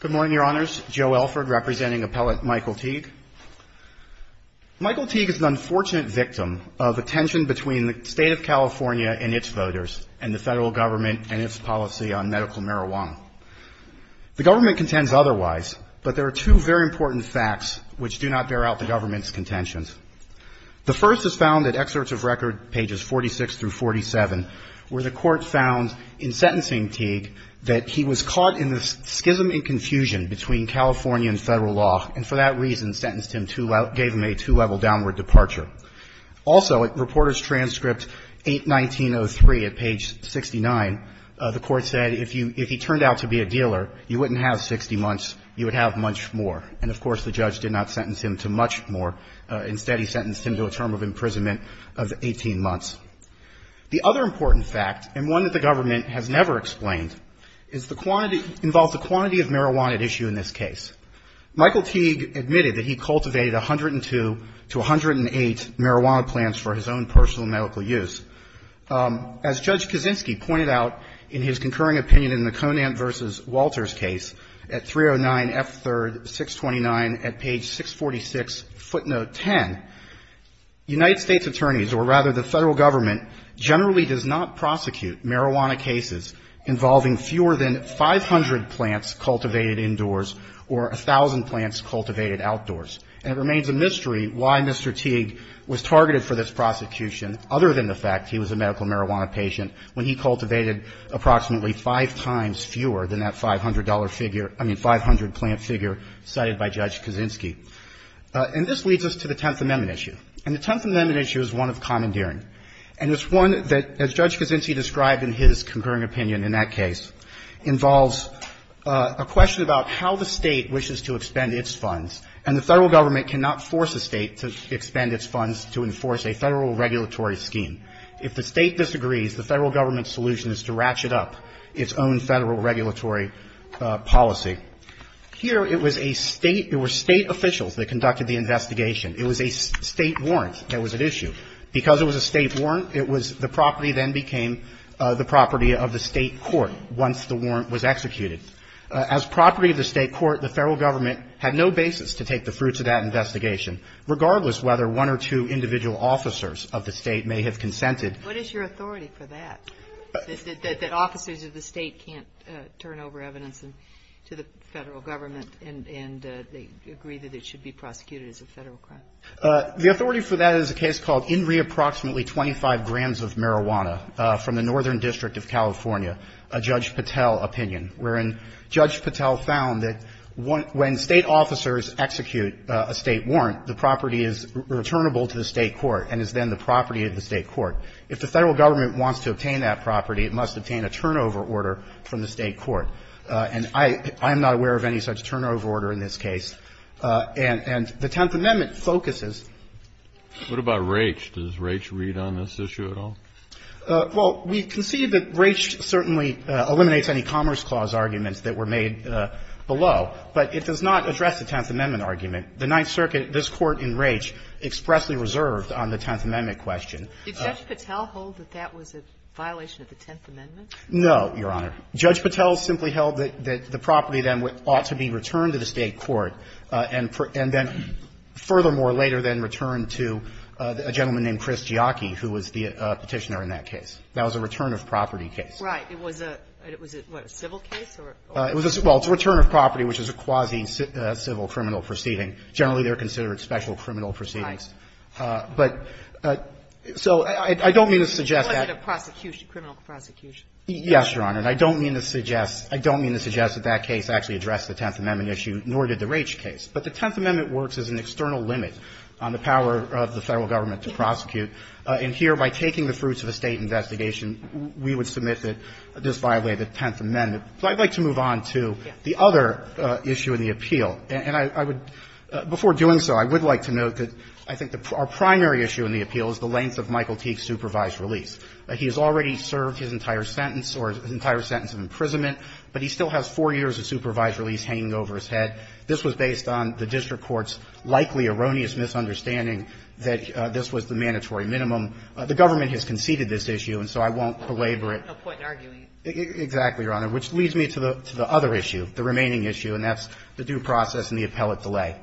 Good morning, your honors, Joe Elford, representing appellate Michael Teague. Michael Teague is an unfortunate victim of a tension between the state of California and its voters and the federal government and its policy on medical marijuana. The government contends otherwise, but there are two very important facts which do not bear out the government's contentions. The first is found at excerpts of record, pages 46 through 47, where the Court found in sentencing Teague that he was caught in the schism and confusion between California and federal law, and for that reason sentenced him to — gave him a two-level downward departure. Also, at Reporters' Transcript 81903 at page 69, the Court said, if you — if he turned out to be a dealer, you wouldn't have 60 months, you would have much more. And, of course, the judge did not sentence him to much more. Instead, he sentenced him to a term of imprisonment of 18 months. The other important fact, and one that the government has never explained, is the quantity — involves a quantity of marijuana at issue in this case. Michael Teague admitted that he cultivated 102 to 108 marijuana plants for his own personal medical use. As Judge Kaczynski pointed out in his concurring opinion in the Conant v. Walters case at 309F3-629 at page 646, footnote 10, United States attorneys, or rather the federal government, generally does not prosecute marijuana cases involving fewer than 500 plants cultivated indoors or 1,000 plants cultivated outdoors. And it remains a mystery why Mr. Teague was targeted for this prosecution, other than the fact that he was a medical marijuana patient, when he cultivated approximately five times fewer than that $500 figure — I mean, 500 plant figure cited by Judge Kaczynski. And this leads us to the Tenth Amendment issue. And the Tenth Amendment issue is one of commandeering. And it's one that, as Judge Kaczynski described in his concurring opinion in that case, involves a question about how the State wishes to expend its funds, and the Federal Government cannot force a State to expend its funds to enforce a Federal regulatory scheme. If the State disagrees, the Federal Government's solution is to ratchet up its own Federal regulatory policy. Here it was a State — it were State officials that conducted the investigation. It was a State warrant that was at issue. Because it was a State warrant, it was — the property then became the property of the State had no basis to take the fruits of that investigation, regardless whether one or two individual officers of the State may have consented. What is your authority for that, that officers of the State can't turn over evidence to the Federal Government, and they agree that it should be prosecuted as a Federal crime? The authority for that is a case called In Re Approximately 25 Grams of Marijuana from the Northern District of California, a Judge Patel opinion, wherein Judge Patel found that when State officers execute a State warrant, the property is returnable to the State court and is then the property of the State court. If the Federal Government wants to obtain that property, it must obtain a turnover order from the State court. And I am not aware of any such turnover order in this case. And the Tenth Amendment focuses — What about Raich? Does Raich read on this issue at all? Well, we concede that Raich certainly eliminates any Commerce Clause arguments that were made below. But it does not address the Tenth Amendment argument. The Ninth Circuit, this Court in Raich, expressly reserved on the Tenth Amendment question. Did Judge Patel hold that that was a violation of the Tenth Amendment? No, Your Honor. Judge Patel simply held that the property then ought to be returned to the State court and then furthermore later then returned to a gentleman named Chris Giacchi, who was the Petitioner in that case. That was a return-of-property case. Right. It was a — was it, what, a civil case, or? Well, it's a return-of-property, which is a quasi-civil criminal proceeding. Generally, they're considered special criminal proceedings. Right. But so I don't mean to suggest that — It wasn't a prosecution, criminal prosecution. Yes, Your Honor. And I don't mean to suggest — I don't mean to suggest that that case actually addressed the Tenth Amendment issue, nor did the Raich case. But the Tenth Amendment works as an external limit on the power of the Federal government to prosecute. And here, by taking the fruits of a State investigation, we would submit that this violated the Tenth Amendment. So I'd like to move on to the other issue in the appeal. And I would — before doing so, I would like to note that I think our primary issue in the appeal is the length of Michael Teague's supervised release. He has already served his entire sentence or his entire sentence of imprisonment, but he still has four years of supervised release hanging over his head. This was based on the district court's likely erroneous misunderstanding that this was the mandatory minimum. The government has conceded this issue, and so I won't belabor it. No point in arguing it. Exactly, Your Honor, which leads me to the other issue, the remaining issue, and that's the due process and the appellate delay.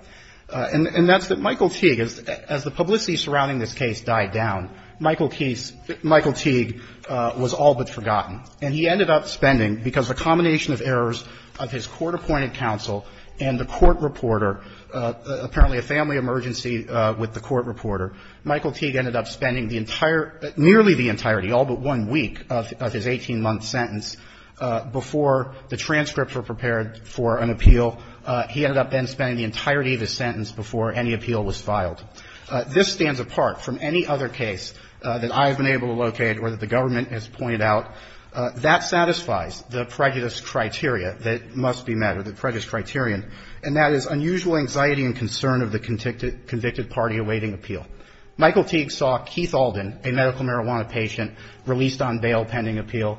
And that's that Michael Teague, as the publicity surrounding this case died down, Michael Teague was all but forgotten. And he ended up spending, because of a combination of errors of his court-appointed counsel and the court reporter, apparently a family emergency with the court reporter, Michael Teague ended up spending the entire — nearly the entirety, all but one week of his 18-month sentence before the transcripts were prepared for an appeal. He ended up then spending the entirety of his sentence before any appeal was filed. This stands apart from any other case that I have been able to locate or that the government has pointed out. That satisfies the prejudice criteria that must be met, or the prejudice criterion, and that is unusual anxiety and concern of the convicted party awaiting appeal. Michael Teague saw Keith Alden, a medical marijuana patient, released on bail pending appeal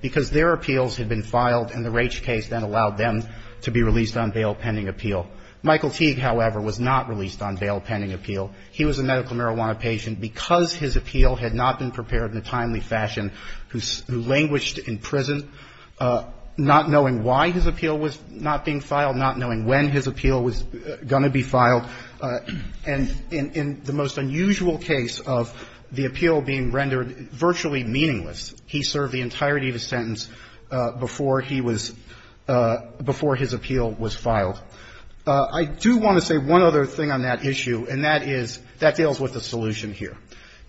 because their appeals had been filed and the Raich case then allowed them to be released on bail pending appeal. Michael Teague, however, was not released on bail pending appeal. He was a medical marijuana patient. Because his appeal had not been prepared in a timely fashion, who languished in prison, not knowing why his appeal was not being filed, not knowing when his appeal was going to be filed, and in the most unusual case of the appeal being rendered virtually meaningless, he served the entirety of his sentence before he was — before his appeal was filed. I do want to say one other thing on that issue, and that is that deals with the solution here.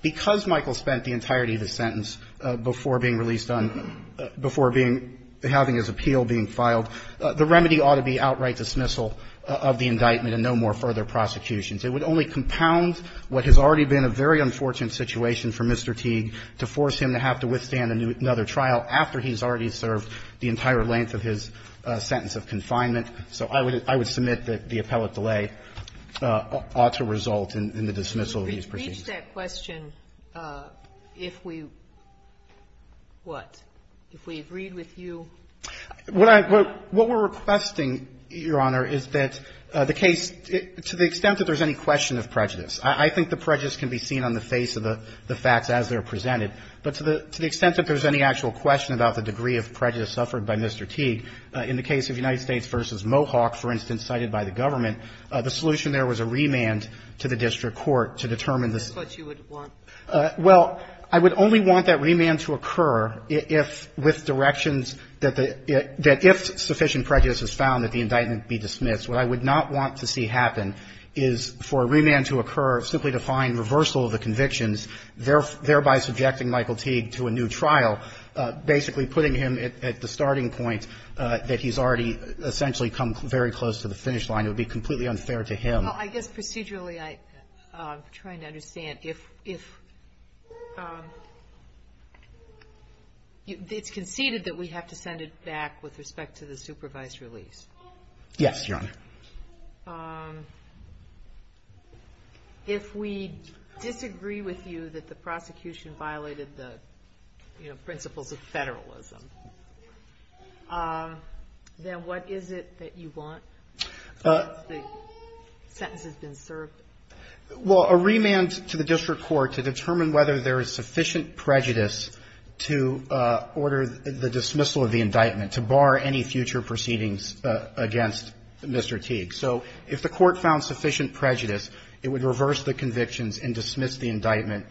Because Michael spent the entirety of his sentence before being released on — before being — having his appeal being filed, the remedy ought to be outright dismissal of the indictment and no more further prosecutions. It would only compound what has already been a very unfortunate situation for Mr. Teague to force him to have to withstand another trial after he's already served the entire length of his sentence of confinement. So I would — I would submit that the appellate delay ought to result in the dismissal of these proceedings. Sotomayor, did we reach that question if we — what? If we agreed with you? What I — what we're requesting, Your Honor, is that the case, to the extent that there's any question of prejudice. I think the prejudice can be seen on the face of the facts as they're presented. But to the extent that there's any actual question about the degree of prejudice suffered by Mr. Teague, in the case of United States v. Mohawk, for instance, cited by the government, the solution there was a remand to the district court to determine the — That's what you would want? Well, I would only want that remand to occur if — with directions that the — that if sufficient prejudice is found, that the indictment be dismissed. What I would not want to see happen is for a remand to occur simply to find reversal of the convictions, thereby subjecting Michael Teague to a new trial, basically putting him at the starting point that he's already essentially come very close to the finish line. It would be completely unfair to him. Well, I guess procedurally I'm trying to understand. If — if — it's conceded that we have to send it back with respect to the supervised release. Yes, Your Honor. If we disagree with you that the prosecution violated the, you know, principles of federalism, then what is it that you want? Well, a remand to the district court to determine whether there is sufficient prejudice to order the dismissal of the indictment, to bar any future proceedings against Mr. Teague. So if the court found sufficient prejudice, it would reverse the convictions and dismiss the indictment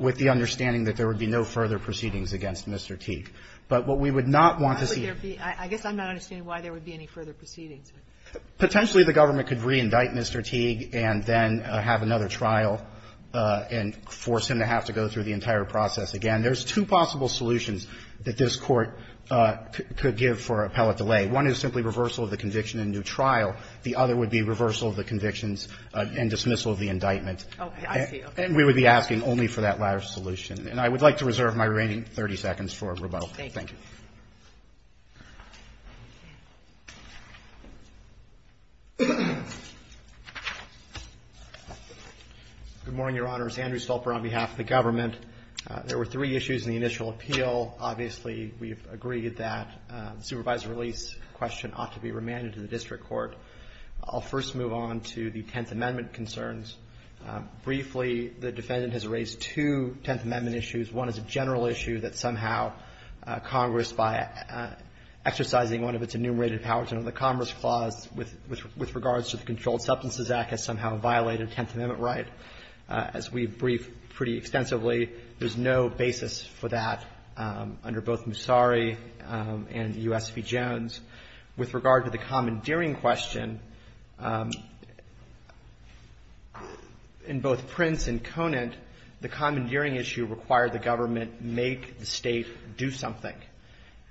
with the understanding that there would be no further proceedings against Mr. Teague. But what we would not want to see — I guess I'm not understanding why there would be any further proceedings. Potentially, the government could reindict Mr. Teague and then have another trial and force him to have to go through the entire process again. There's two possible solutions that this Court could give for appellate delay. One is simply reversal of the conviction in a new trial. The other would be reversal of the convictions and dismissal of the indictment. Okay. I see. And we would be asking only for that latter solution. And I would like to reserve my remaining 30 seconds for rebuttal. Thank you. Good morning, Your Honors. Andrew Stolper on behalf of the government. There were three issues in the initial appeal. Obviously, we've agreed that the supervisor release question ought to be remanded to the district court. I'll first move on to the Tenth Amendment concerns. Briefly, the defendant has raised two Tenth Amendment issues. One is a general issue that somehow Congress, by exercising one of its enumerated powers under the Commerce Clause with regards to the Controlled Substances Act, has somehow violated a Tenth Amendment right. As we've briefed pretty extensively, there's no basis for that under both Musari and U.S. v. Jones. With regard to the commandeering question, in both Prince and Conant, the commandeering issue required the government make the State do something.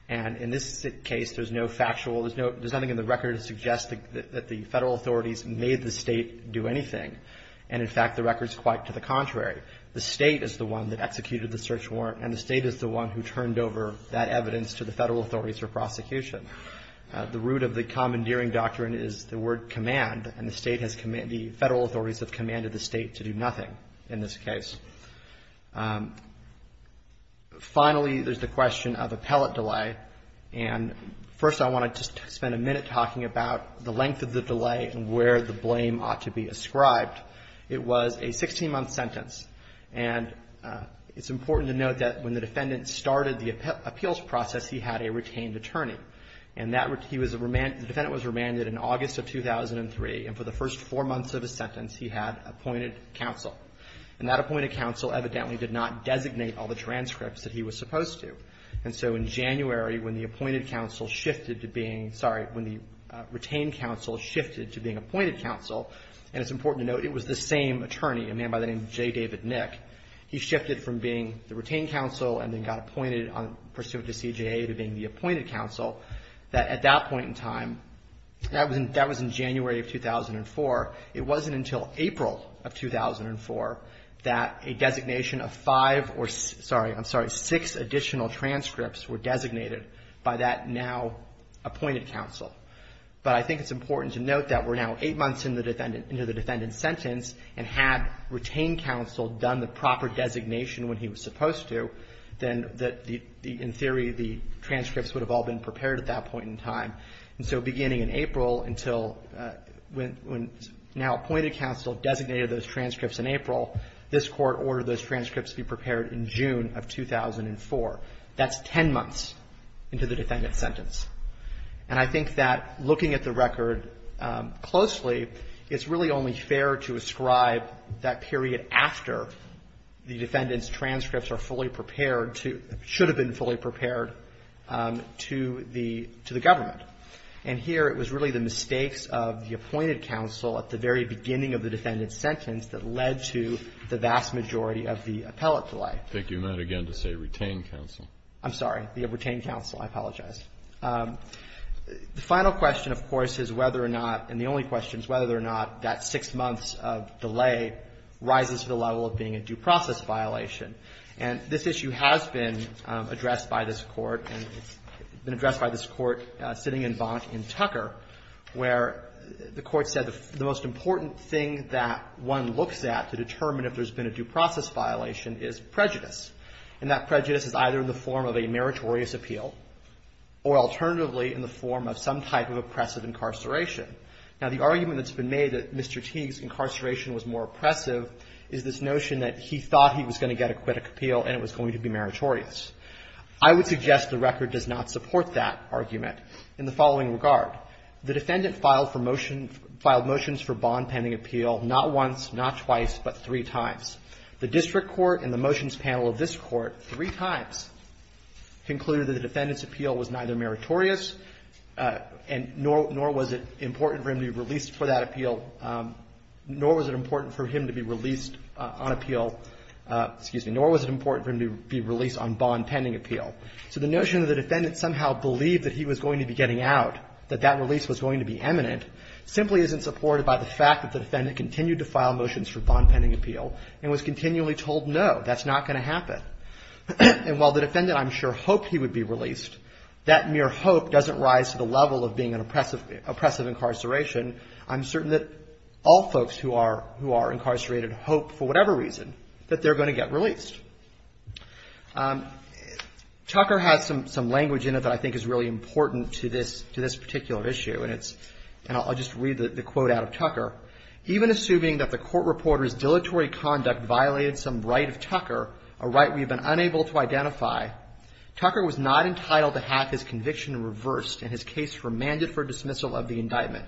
And in this case, there's no factual, there's nothing in the record to suggest that the Federal authorities made the State do anything. And, in fact, the record's quite to the Federal authorities for prosecution. The root of the commandeering doctrine is the word command, and the Federal authorities have commanded the State to do nothing in this case. Finally, there's the question of appellate delay. And first, I want to just spend a minute talking about the length of the delay and where the blame ought to be ascribed. It was a 16-month sentence. And it's important to note that when the defendant started the case, he had a retained attorney. And that he was remanded, the defendant was remanded in August of 2003, and for the first four months of his sentence, he had appointed counsel. And that appointed counsel evidently did not designate all the transcripts that he was supposed to. And so in January, when the appointed counsel shifted to being, sorry, when the retained counsel shifted to being appointed counsel, and it's important to note it was the same attorney, a man by the name of J. David Nick, he shifted from being the retained counsel and then got appointed pursuant to CJA to being the appointed counsel, that at that point in time, that was in January of 2004, it wasn't until April of 2004 that a designation of five or, sorry, I'm sorry, six additional transcripts were designated by that now appointed counsel. But I think it's important to note that we're now eight months into the defendant's sentence, and had retained counsel done the proper designation when he was supposed to, then in theory the transcripts would have all been prepared at that point in time. And so beginning in April, until when now appointed counsel designated those transcripts in April, this Court ordered those transcripts be prepared in June of 2004. That's ten months into the defendant's sentence. And I think that looking at the record closely, it's really only fair to ascribe that period after the defendant's transcripts are fully prepared to or should have been fully prepared to the government. And here it was really the mistakes of the appointed counsel at the very beginning of the defendant's sentence that led to the vast majority of the appellate delay. Kennedy, I think you meant again to say retained counsel. I'm sorry. The retained counsel. I apologize. The final question, of course, is whether or not, and the only question is whether or not, that six months of delay rises to the level of being a due process violation. And this issue has been addressed by this Court, and it's been addressed by this Court sitting in Bont in Tucker, where the Court said the most important thing that one looks at to determine if there's been a due process violation is prejudice. And that prejudice is either in the form of a meritorious appeal or alternatively in the form of some type of oppressive incarceration. Now, the argument that's been made that Mr. Teague's incarceration was more oppressive is this notion that he thought he was going to get acquittal appeal and it was going to be meritorious. I would suggest the record does not support that argument in the following regard. The defendant filed for motion — filed motions for bond pending appeal not once, not twice, but three times. The district court and the motions panel of this Court three times concluded that the defendant's appeal was neither meritorious and nor was it important for him to be released for that appeal, nor was it important for him to be released on appeal — excuse me — nor was it important for him to be released on bond pending appeal. So the notion that the defendant somehow believed that he was going to be getting out, that that release was going to be eminent, simply isn't supported by the fact that the defendant continued to file motions for bond pending appeal and was continually told, no, that's not going to happen. And while the defendant, I'm sure, hoped he would be released, that mere hope doesn't rise to the level of being an oppressive — oppressive incarceration. I'm certain that all folks who are — who are incarcerated hope, for whatever reason, that they're going to get released. Tucker has some — some language in it that I think is really important to this — to this case. Even assuming that the court reporter's dilatory conduct violated some right of Tucker, a right we've been unable to identify, Tucker was not entitled to have his conviction reversed and his case remanded for dismissal of the indictment.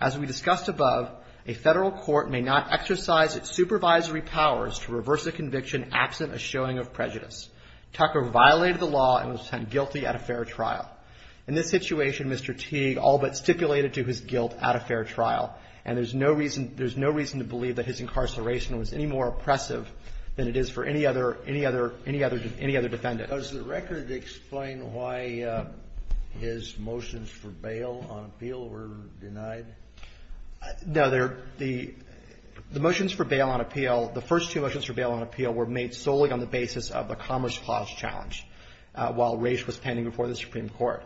As we discussed above, a federal court may not exercise its supervisory powers to reverse a conviction absent a showing of prejudice. Tucker violated the law and was sent guilty at a fair trial. In this situation, Mr. Teague all but stipulated to his guilt at a fair trial, and there's no reason — there's no reason to believe that his incarceration was any more oppressive than it is for any other — any other — any other — any other defendant. Kennedy. Does the record explain why his motions for bail on appeal were denied? Wessler. No. The — the motions for bail on appeal, the first two motions for bail on appeal, were made solely on the basis of a Commerce Clause challenge. While race was pending before the Supreme Court.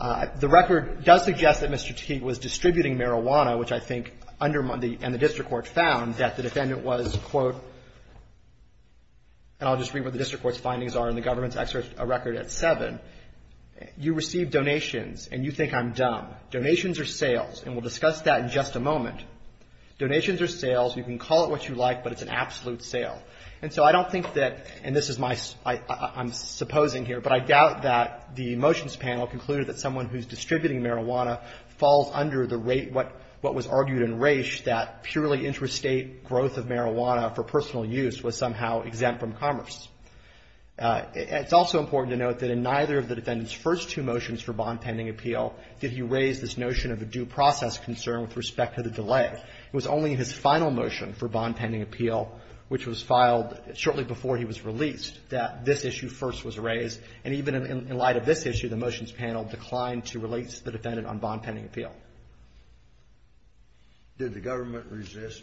The record does suggest that Mr. Teague was distributing marijuana, which I think undermined the — and the district court found that the defendant was, quote — and I'll just read what the district court's findings are in the government's excerpt — a record at 7. You received donations and you think I'm dumb. Donations or sales? And we'll discuss that in just a moment. Donations or sales? You can call it what you like, but it's an absolute sale. And so I don't think that — and this is my — I'm supposing here, but I doubt that the motions panel concluded that someone who's distributing marijuana falls under the rate what — what was argued in Raich that purely interstate growth of marijuana for personal use was somehow exempt from commerce. It's also important to note that in neither of the defendant's first two motions for bond pending appeal did he raise this notion of a due process concern with respect to the delay. It was only in his final motion for bond pending appeal, which was filed shortly before he was released, that this issue first was raised. And even in light of this issue, the motions panel declined to release the defendant on bond pending appeal. Did the government resist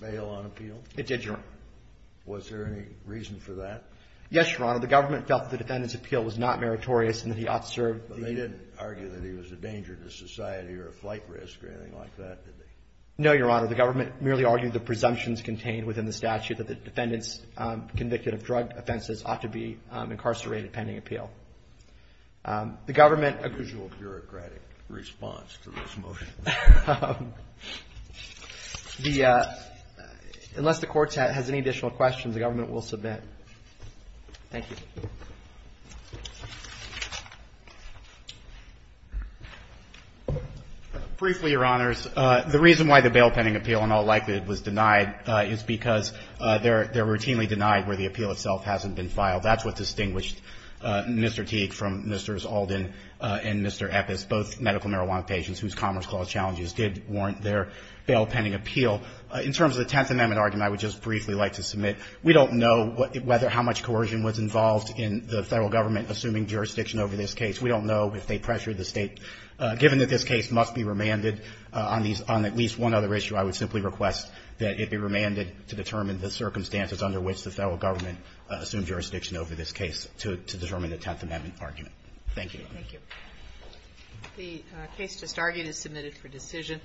bail on appeal? It did, Your Honor. Was there any reason for that? Yes, Your Honor. The government felt the defendant's appeal was not meritorious and that he ought to serve the — But they didn't argue that he was a danger to society or a flight risk or anything like that, did they? No, Your Honor. The government merely argued the presumptions contained within the statute that the defendants convicted of drug offenses ought to be incarcerated pending appeal. The government — Unusual bureaucratic response to this motion. The — unless the Court has any additional questions, the government will submit. Thank you. Briefly, Your Honors, the reason why the bail pending appeal in all likelihood was denied is because they're routinely denied where the appeal itself hasn't been filed. That's what distinguished Mr. Teague from Mr. Zaldin and Mr. Eppes, both medical marijuana patients whose Commerce Clause challenges did warrant their bail pending appeal. In terms of the Tenth Amendment argument, I would just briefly like to submit, we don't know whether — how much coercion was involved in the Federal Government assuming jurisdiction over this case. We don't know if they pressured the State. Given that this case must be remanded on these — on at least one other issue, I would simply request that it be remanded to determine the circumstances under which the Federal Government assumed jurisdiction over this case to determine the Tenth Amendment argument. Thank you. Thank you. The case just argued is submitted for decision.